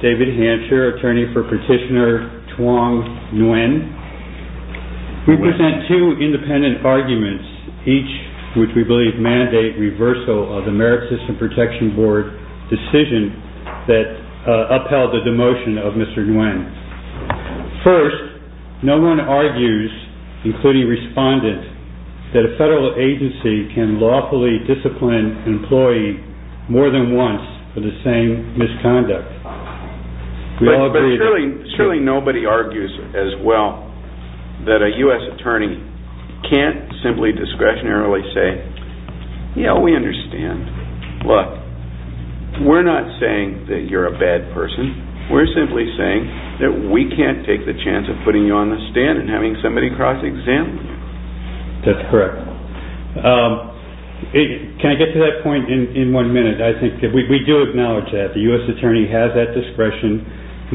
David Hampshire, Attorney for Petitioner Thuong Nguyen We present two independent arguments, each which we believe mandate reversal of the Merit System Protection Board decision that upheld the demotion of Mr. Nguyen. First, no one argues, including Respondent, that a federal agency can lawfully discipline an employee more than once for the same misconduct. But surely nobody argues as well that a U.S. Attorney can't simply discretionarily say, yeah, we understand. Look, we're not saying that you're a bad person. We're simply saying that we can't take the chance of putting you on the stand and having somebody cross-examine you. That's correct. Can I get to that point in one minute? We do acknowledge that the U.S. Attorney has that discretion.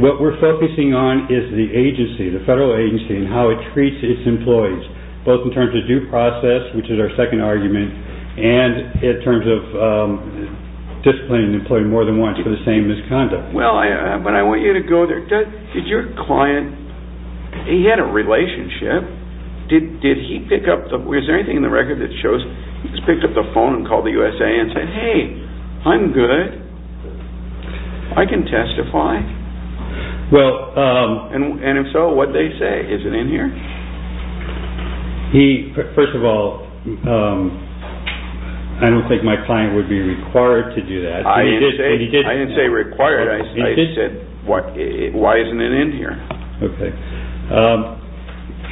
What we're focusing on is the agency, the federal agency, and how it treats its employees, both in terms of due process, which is our second argument, and in terms of disciplining an employee more than once for the same misconduct. Well, I want you to go there. Did your client, he had a relationship. Did he pick up, is there anything in the record that shows he picked up the phone and called the USA and said, hey, I'm good. I can testify. And if so, what did they say? Is it in here? First of all, I don't think my client would be required to do that. I didn't say required. I said, why isn't it in here?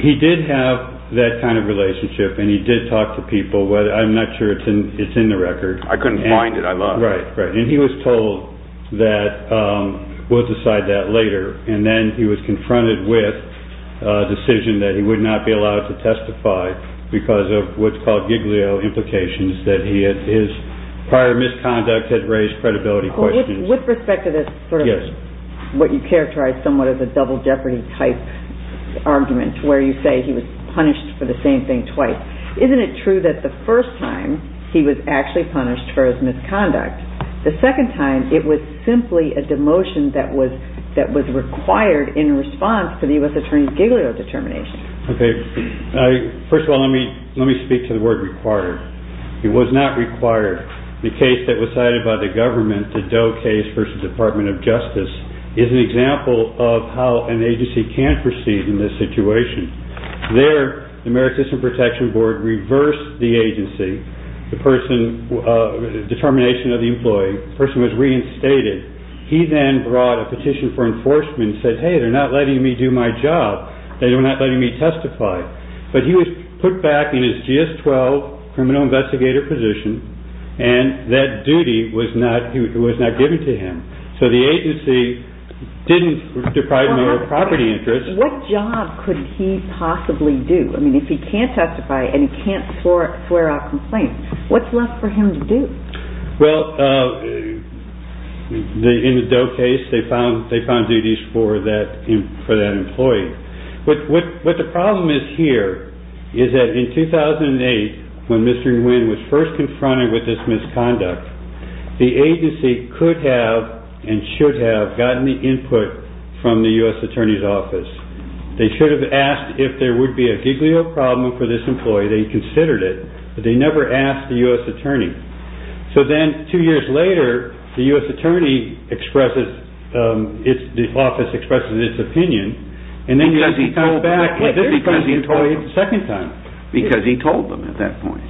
He did have that kind of relationship and he did talk to people. I'm not sure it's in the record. I couldn't find it. I lost it. Right. And he was told that we'll decide that later. And then he was confronted with a decision that he would not be allowed to testify because of what's called Giglio implications, that he had his prior misconduct had raised credibility questions. With respect to this, what you characterize somewhat of a double jeopardy type argument where you say he was punished for the same thing twice. Isn't it true that the first time he was actually punished for his misconduct, the second time it was simply a demotion that was required in response to the U.S. Attorney's Giglio determination? Okay. First of all, let me speak to the word required. It was not required. The case that was cited by the government, the Doe case versus the Department of Justice, is an example of how an agency can proceed in this situation. There, the American System Protection Board reversed the agency, the person, the determination of the employee. The person was reinstated. He then brought a petition for enforcement and said, hey, they're not letting me do my job. They're not letting me testify. But he was put back in his GS-12 criminal investigator position, and that duty was not given to him. So the agency didn't deprive him of property interests. What job could he possibly do? I mean, if he can't testify and he can't swear a complaint, what's left for him to do? Well, in the Doe case, they found duties for that employee. What the problem is here is that in 2008, when Mr. Nguyen was first confronted with this misconduct, the agency could have and should have gotten the input from the U.S. Attorney's Office. They should have asked if there would be a Giglio problem for this employee. They considered it, but they never asked the U.S. Attorney. So then two years later, the U.S. Attorney expresses, the office expresses its opinion, and then he was told back, and this was the employee's second time. Because he told them at that point.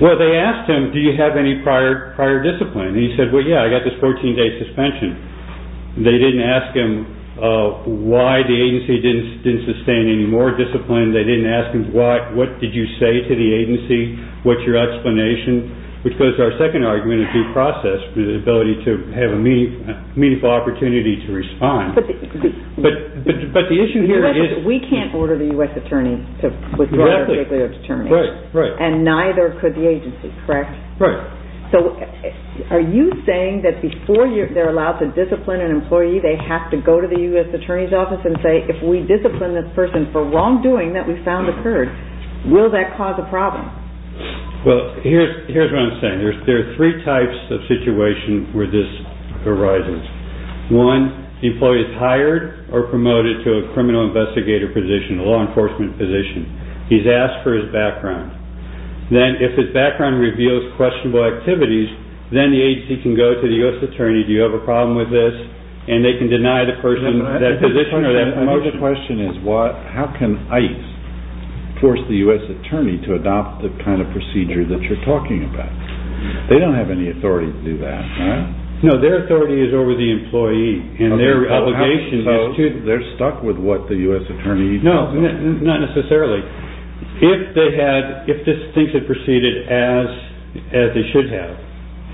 Well, they asked him, do you have any prior discipline? And he said, well, yeah, I got this 14-day suspension. They didn't ask him why the agency didn't sustain any more discipline. They didn't ask him what, what did you say to the agency? What's your explanation? Because our second argument is due process, the ability to have a meaningful opportunity to respond. But the issue here is... We can't order the U.S. Attorney to withdraw the Giglio's term, and neither could the agency, correct? Right. So, are you saying that before they're allowed to discipline an employee, they have to go to the U.S. Attorney's office and say, if we discipline this person for wrongdoing that we found occurred, will that cause a problem? Well, here's what I'm saying. There are three types of situations where this arises. One, the employee is hired or promoted to a criminal investigator position, a law enforcement position. He's asked for his background. Then, if his background reveals questionable activities, then the agency can go to the U.S. Attorney, do you have a problem with this? And they can deny the person that position or that promotion. My other question is, how can ICE force the U.S. Attorney to adopt the kind of procedure that you're talking about? They don't have any authority to do that, right? No, their authority is over the employee, and their obligation is to... They're stuck with what the U.S. Attorney... No, not necessarily. If this thing had proceeded as it should have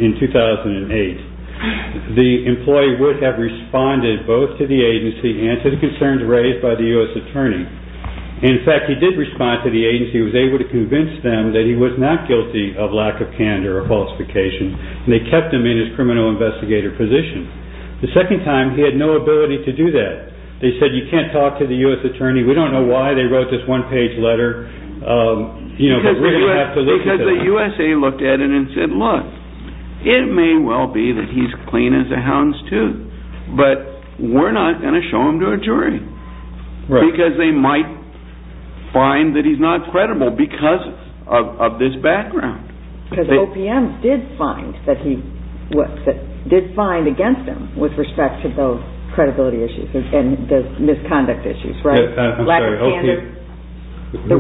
in 2008, the employee would have responded both to the agency and to the concerns raised by the U.S. Attorney. In fact, he did respond to the agency. He was able to convince them that he was not guilty of lack of candor or falsification, and they kept him in his criminal investigator position. The second time, he had no ability to do that. They said, you can't talk to the U.S. Attorney. We don't know why they wrote this one-page letter, but we're going to have to look at it. Because the U.S.A. looked at it and said, look, it may well be that he's clean as a hound's tooth, but we're not going to show him to a jury because they might find that he's not credible because of this background. Because OPM did find against him with respect to those credibility issues and those misconduct issues, right? I'm sorry, OPM... The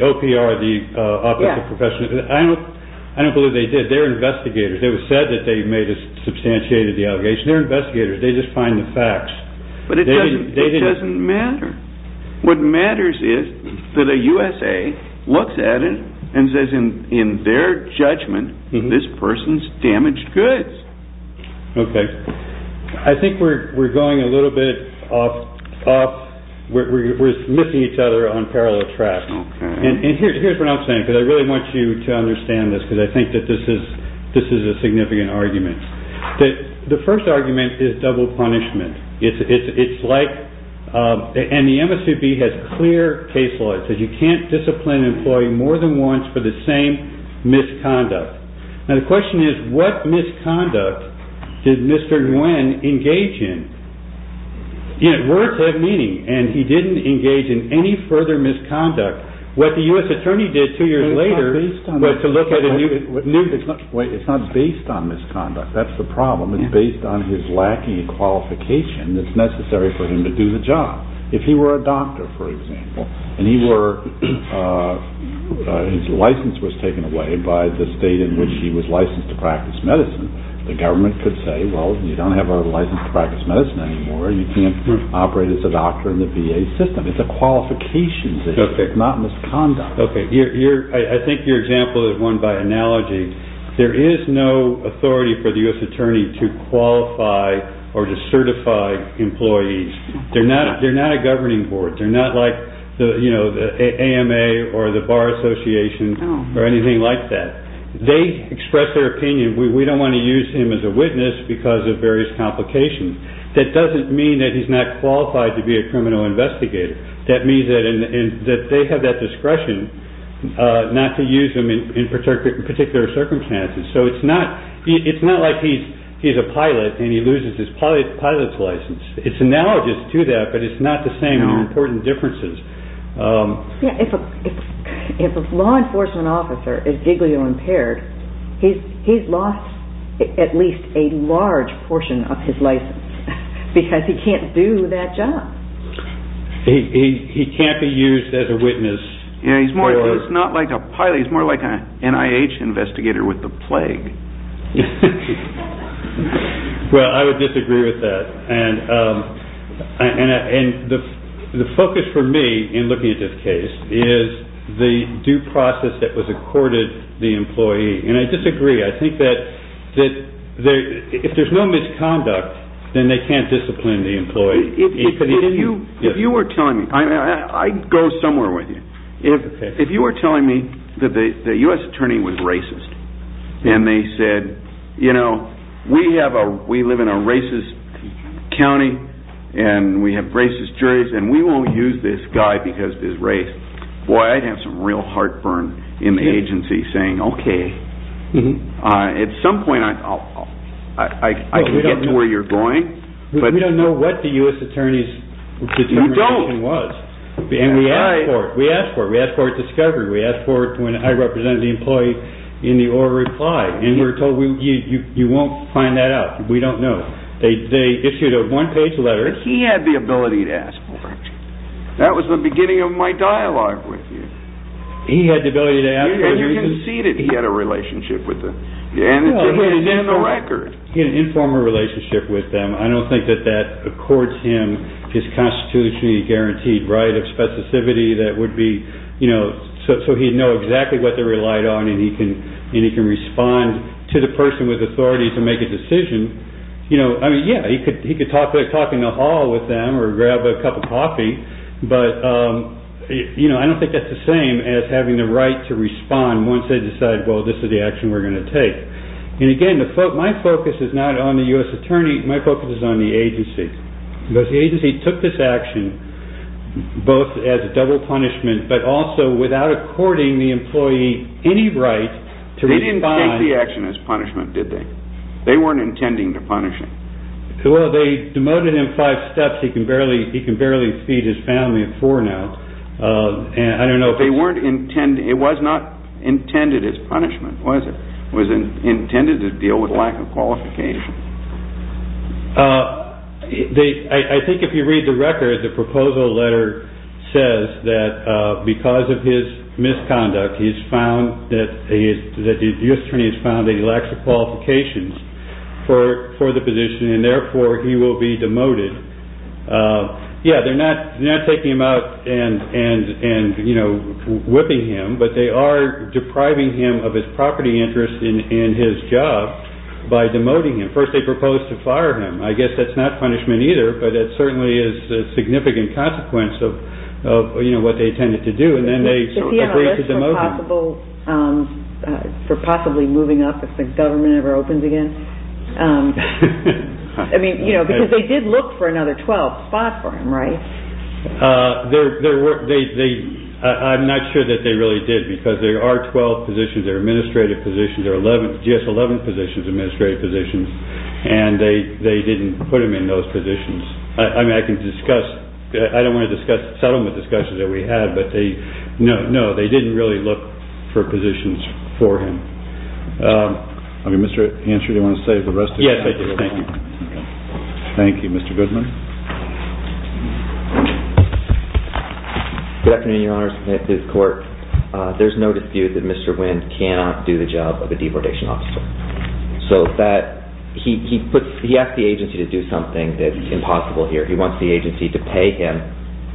OPR, the Office of Professional... I don't believe they did. They're investigators. It was said that they made a substantiated allegation. They're investigators. They just find the facts. But it doesn't matter. What matters is that a U.S.A. looks at it and says, in their judgment, this person's damaged goods. Okay. I think we're going a little bit off... We're missing each other on parallel. And here's what I'm saying, because I really want you to understand this, because I think that this is a significant argument. The first argument is double punishment. It's like... And the MSVB has clear case law. It says you can't discipline an employee more than once for the same misconduct. Now, the question is, what misconduct did Mr. Nguyen engage in? Words have meaning, and he didn't engage in any further misconduct. What the U.S. attorney did two years later... It's not based on that. ...was to look at a new... Wait. It's not based on misconduct. That's the problem. It's based on his lacking qualification that's necessary for him to do the job. If he were a doctor, for example, and his license was taken away by the state in which he was licensed to practice medicine, the government could say, well, you don't have a license to practice medicine anymore. You can't operate as a doctor in the VA system. It's a qualification. It's not misconduct. I think your example is one by analogy. There is no authority for the U.S. attorney to qualify or to certify employees. They're not a governing board. They're not like the AMA or the Bar Association or anything like that. They express their opinion. We don't want to use him as a criminal investigator. That means that they have that discretion not to use him in particular circumstances. It's not like he's a pilot and he loses his pilot's license. It's analogous to that, but it's not the same. There are important differences. If a law enforcement officer is giglio-impaired, he's lost at least a large portion of his job. He can't be used as a witness. He's not like a pilot. He's more like an NIH investigator with the plague. I would disagree with that. The focus for me in looking at this case is the due process that was accorded the employee. I disagree. I think that if there's no misconduct, then they can't discipline the employee. If you were telling me, I'd go somewhere with you. If you were telling me that the U.S. attorney was racist and they said, we live in a racist county and we have racist juries and we won't use this guy because of his race, I'd have some real heartburn in the agency saying, okay. At some point, I can get to where you're going. We don't know what the U.S. attorney's determination was. We asked for it. We asked for a discovery. We asked for it when I represented the employee in the oral reply. We were told you won't find that out. We don't know. They issued a one-page letter. He had the ability to ask for it. That was the beginning of my dialogue with you. You conceded he had a relationship with them. He had an informal relationship with them. I don't think that that accords him his constitutionally guaranteed right of specificity so he'd know exactly what they relied on and he can respond to the person with authority to make a decision. He could talk in the hall with them or grab a cup of coffee, but I don't think that's the same as having the right to respond once they decide this is the action we're going to take. My focus is not on the U.S. attorney. My focus is on the agency. The agency took this action both as a double punishment, but also without according the employee any right to respond. They didn't take the action as punishment, did they? They weren't intending to punish him. They demoted him five steps. He can barely feed his family of four now. It was not intended as punishment, was it? It was intended to deal with lack of qualification. I think if you read the record, the proposal letter says that because of his misconduct, the U.S. attorney has found that he lacks the qualifications for the position and therefore he will be demoted. They're not taking him out and whipping him, but they are depriving him of his property interest and his job by demoting him. First they proposed to fire him. I guess that's not punishment either, but it certainly is a significant consequence of what they intended to do. Is he on the list for possibly moving up if the government ever opens again? They did look for another 12th spot for him, right? I'm not sure that they really did because there are 12 positions, there are administrative positions, there are GS-11 positions and they didn't put him in those positions. I don't want to settle the discussion that we had, but no, they didn't really look for positions for him. Mr. Ansher, do you want to say the rest of it? Yes, I do. Thank you. Thank you. Mr. Goodman. Good afternoon, Your Honor. This is the court. There's no dispute that Mr. Wynn cannot do the job of a deportation officer. He asked the agency to do something that's impossible here. He wants the agency to pay him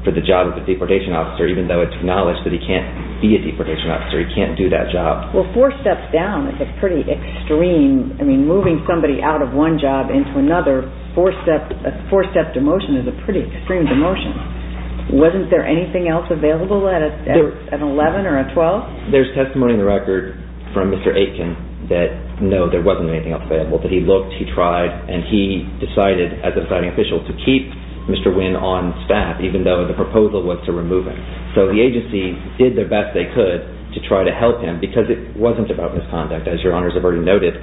for the job of a deportation officer even though it's acknowledged that he can't be a deportation officer, he can't do that job. Well, four steps down is pretty extreme. I mean, moving somebody out of one job into another, a four-step demotion is a pretty extreme demotion. Wasn't there anything else available at an 11th or a 12th? There's testimony in the record from Mr. Aitken that no, there wasn't anything else And he decided, as a deciding official, to keep Mr. Wynn on staff even though the proposal was to remove him. So the agency did the best they could to try to help him because it wasn't about misconduct as Your Honors have already noted.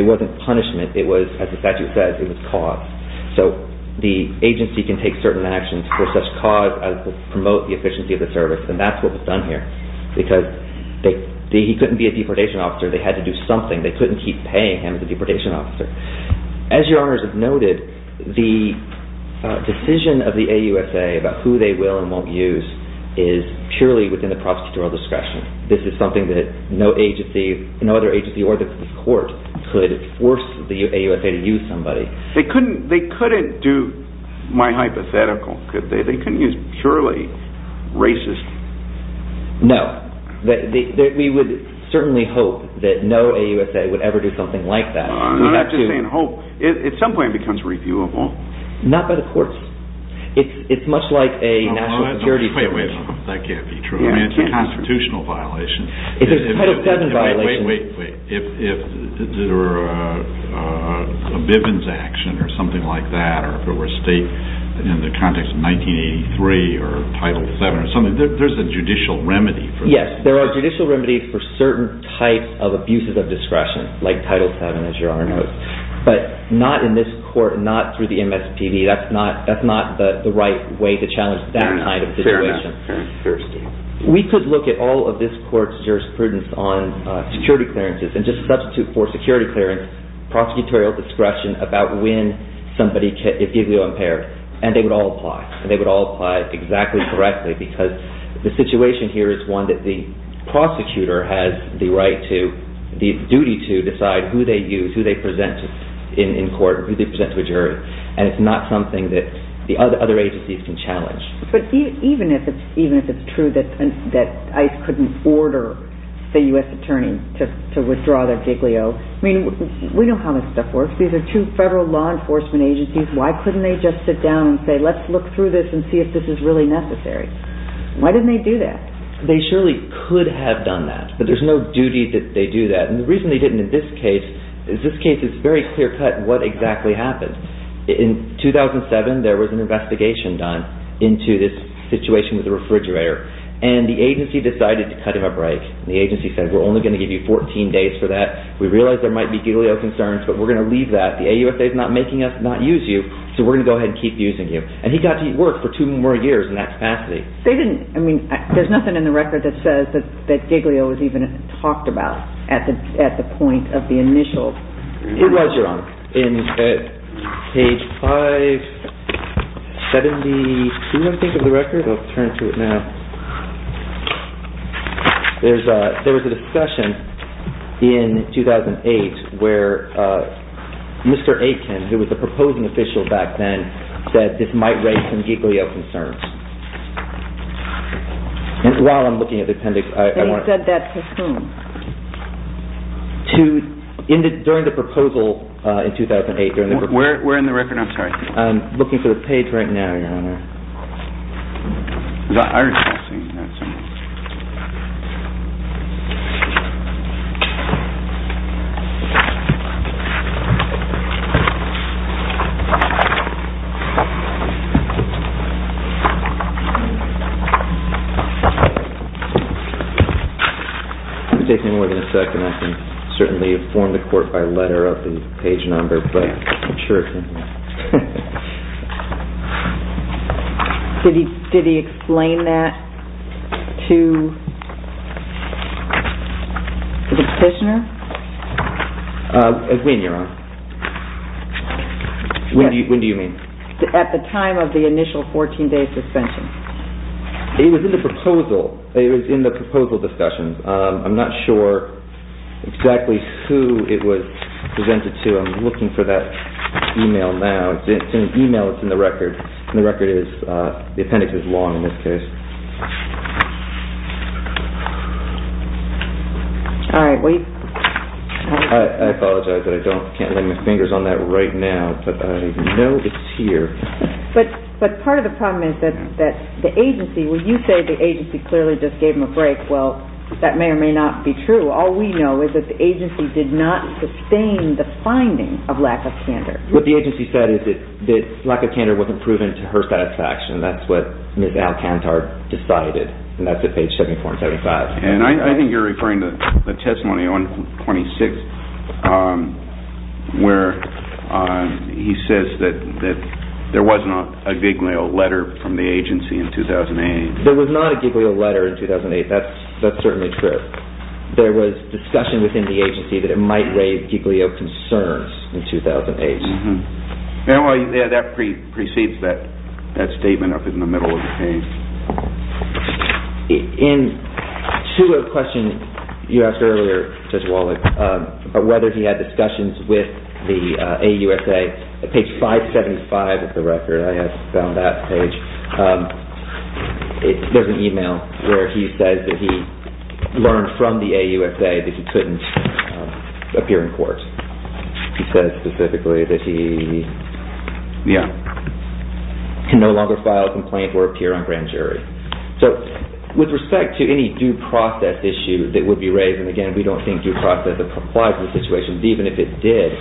It wasn't punishment, it was, as the statute says, it was cause. So the agency can take certain actions for such cause as promote the efficiency of the service and that's what was done here because he couldn't be a deportation officer, they couldn't keep paying him to be a deportation officer. As Your Honors have noted, the decision of the AUSA about who they will and won't use is purely within the prosecutor's discretion. This is something that no agency, no other agency or the court could force the AUSA to use somebody. They couldn't do, my hypothetical, they couldn't use purely racist... No. We would certainly hope that no AUSA would ever do something like that. I'm not just saying hope. At some point it becomes reviewable. Not by the courts. It's much like a national security... Wait, wait, that can't be true. I mean it's a constitutional violation. It's a Title VII violation. Wait, wait, wait. If there were a Bivens action or something like that or if it were a state action in the context of 1983 or Title VII or something, there's a judicial remedy for this. Yes, there are judicial remedies for certain types of abuses of discretion like Title VII, as Your Honor knows, but not in this court, not through the MSPB. That's not the right way to challenge that kind of situation. Fair enough. We could look at all of this court's jurisprudence on security clearances and just substitute for security clearance, prosecutorial discretion about when somebody is IGLIO-impaired, and they would all apply. And they would all apply exactly correctly because the situation here is one that the prosecutor has the right to, the duty to, decide who they use, who they present in court, who they present to a jury. And it's not something that the other agencies can challenge. But even if it's true that ICE couldn't order the U.S. Attorney to withdraw their IGLIO, I mean, we know how this stuff works. These are two federal law enforcement agencies. Why couldn't they just sit down and say, let's look through this and see if this is really necessary? Why didn't they do that? They surely could have done that, but there's no duty that they do that. And the reason they didn't in this case is this case is very clear-cut what exactly happened. In 2007, there was an investigation done into this situation with the refrigerator, and the agency decided to cut him a break. The agency said, we're only going to give you 14 days for that. We realize there might be IGLIO concerns, but we're going to leave that. The AUSA is not making us not use you, so we're going to go ahead and keep using you. And he got to work for two more years in that capacity. They didn't, I mean, there's nothing in the record that says that IGLIO was even talked about at the point of the initial... It was, Your Honor. Page 572, I think, of the record. I'll turn to it now. There was a discussion in 2008 where Mr. Aitken, who was the proposing official back then, said this might raise some IGLIO concerns. While I'm looking at the appendix, I want to... He said that to whom? During the proposal in 2008. Where in the record? I'm sorry. I'm looking for the page right now, Your Honor. Is that Iris Paulson? If you take me more than a second, I can certainly inform the court by letter of the page number, but I'm not sure if... Did he explain that to the petitioner? When, Your Honor? When do you mean? At the time of the initial 14-day suspension. It was in the proposal. It was in the proposal discussion. I'm not sure exactly who it was presented to. I'm looking for that email now. It's an email that's in the record. The appendix is long in this case. I apologize, but I can't lay my fingers on that right now. But I know it's here. But part of the problem is that the agency, when you say the agency clearly just gave him a break, well, that may or may not be true. All we know is that the agency did not sustain the finding of lack of candor. What the agency said is that lack of candor wasn't proven to her satisfaction. That's what Ms. Alcantar decided. And that's at page 74 and 75. And I think you're referring to the testimony on 26, where he says that there wasn't a Giglio letter from the agency in 2008. There was not a Giglio letter in 2008. That's certainly true. There was discussion within the agency that it might raise Giglio concerns in 2008. That precedes that statement up in the middle of the page. To a question you asked earlier, Judge Wallach, about whether he had discussions with the AUSA, page 575 of the record, I have found that page, there's an email where he says that he learned from the AUSA that he couldn't appear in court. He says specifically that he can no longer file a complaint or appear on grand jury. So with respect to any due process issue that would be raised, and again, we don't think due process applies to the situation, but even if it did,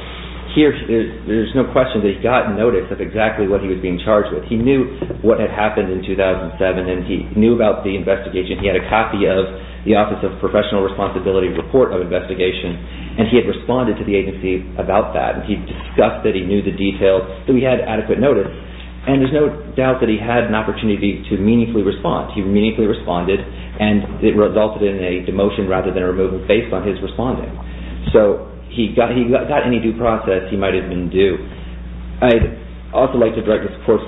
there's no question that he got notice of exactly what he was being charged with. He knew what had happened in 2007, and he knew about the investigation. He had a copy of the Office of Professional Responsibility report of investigation, and he had responded to the agency about that. He discussed that he knew the details, that he had adequate notice, and there's no doubt that he had an opportunity to meaningfully respond. He meaningfully responded, and it resulted in a demotion rather than a removal based on his responding. So he got any due process, he might have been due. I'd also like to direct this Court's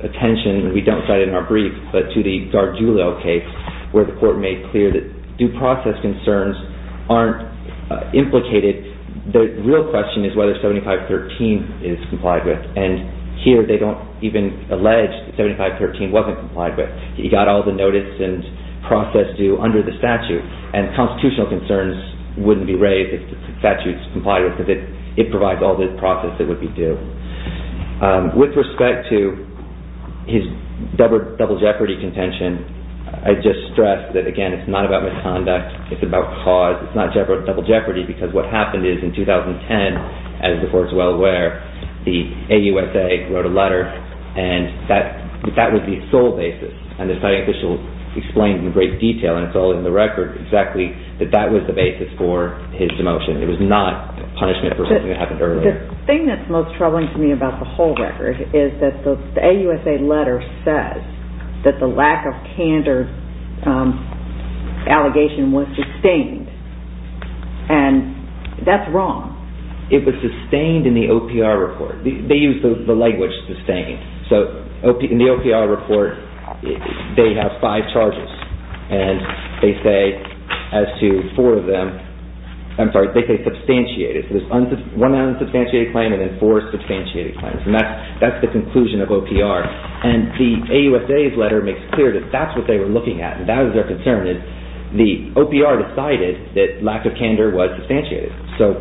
attention, we don't cite it in our brief, but to the Gargiulo case where the Court made clear that due process concerns aren't implicated. The real question is whether 7513 is complied with, and here they don't even allege 7513 wasn't complied with. He got all the notice and process due under the statute, and constitutional concerns wouldn't be raised if the statute's complied with because it provides all the process that would be due. With respect to his double jeopardy contention, I'd just stress that, again, it's not about misconduct, it's about cause, it's not double jeopardy because what happened is in 2010, as the Court's well aware, the AUSA wrote a letter, and that was the sole basis, and the official explained in great detail, and it's all in the record exactly, that that was the basis for his demotion. It was not punishment for something that happened earlier. The thing that's most troubling to me about the whole record is that the AUSA letter says that the lack of candor allegation was sustained, and that's wrong. It was sustained in the OPR report. They used the language sustained. So in the OPR report, they have five charges, and they say as to four of them, I'm sorry, they say substantiated. So there's one unsubstantiated claim and then four substantiated claims, and that's the conclusion of OPR. And the AUSA's letter makes clear that that's what they were looking at, and that was their concern, is the OPR decided that lack of candor was substantiated. So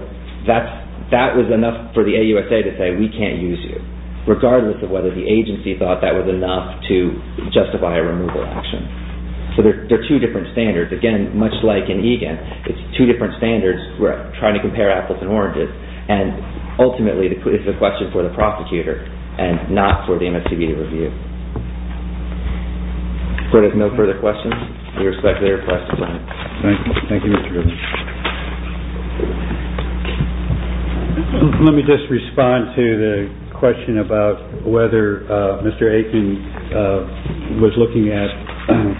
that was enough for the AUSA to say, we can't use you, regardless of whether the agency thought that was enough to justify a removal action. So they're two different standards. Again, much like in EGAN, it's two different standards. We're trying to compare apples and oranges. And ultimately, it's a question for the prosecutor, and not for the MSTB to review. If there are no further questions, we respectfully request a sign. Thank you, Mr. Richards. Let me just respond to the question about whether Mr. Aitken was looking at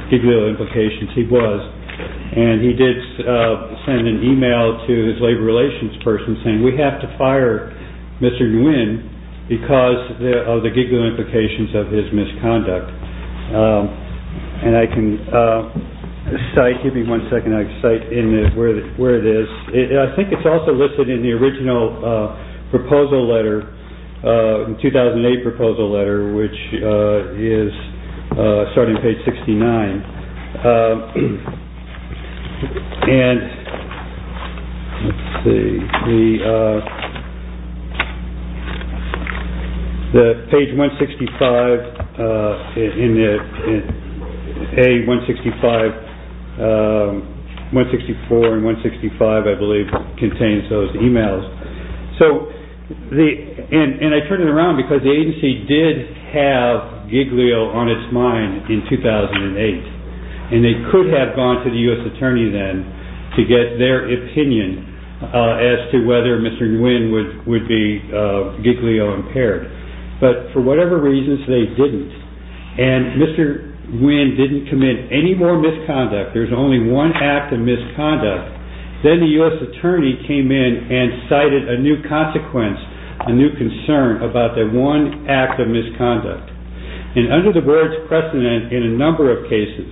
particular implications. He was, and he did send an email to his labor relations person saying, we have to fire Mr. Nguyen because of the giggling implications of his misconduct. And I can cite, give me one second, I can cite where it is. I think it's also listed in the original proposal letter, 2008 proposal letter, which is starting page 69. And, let's see, the page 165, in A165, 164 and 165, I believe, contains those emails. And I turn it around because the agency did have Giglio on its mind in 2008. And they could have gone to the U.S. attorney then to get their opinion as to whether Mr. Nguyen would be Giglio impaired. But for whatever reasons, they didn't. And Mr. Nguyen didn't commit any more misconduct. There's only one act of misconduct. Then the U.S. attorney came in a new concern about that one act of misconduct. And under the words precedent in a number of cases,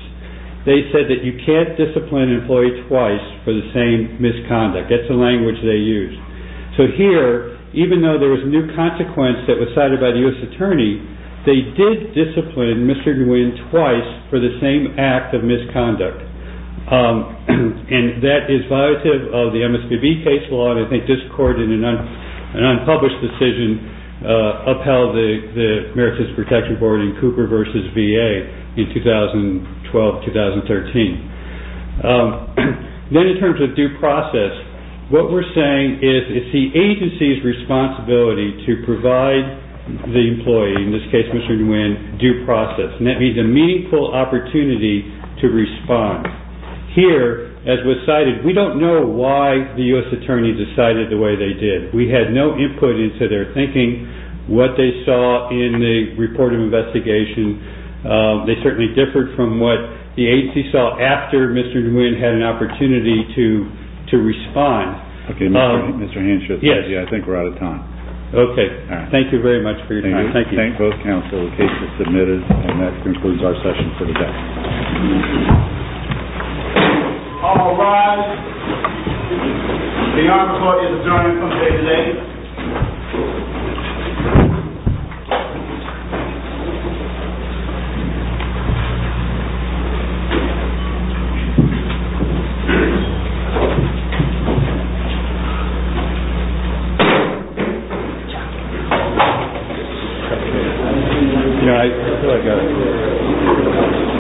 they said that you can't discipline an employee twice for the same misconduct. That's the language they used. So here, even though there was new consequence that was cited by the U.S. attorney, they did discipline Mr. Nguyen twice for the same act of misconduct. And that is violative of the MSPB case law, and I think this court in an unpublished decision upheld the Meritus Protection Board in Cooper v. VA in 2012-2013. Then in terms of due process, what we're saying is it's the agency's responsibility to provide the employee, in this case Mr. Nguyen, due process. And that means a meaningful opportunity to respond. Here, as was cited, we don't know why the U.S. attorney decided the way they did. We had no input into their thinking, what they saw in the report of investigation. They certainly differed from what the agency saw after Mr. Nguyen had an opportunity to respond. Okay, Mr. Henshaw, I think we're out of time. Okay, thank you very much for your time. Thank you. Thank both counsel, the case is submitted, and that concludes our session for the day. All rise. The honor court is adjourned until 8 a.m.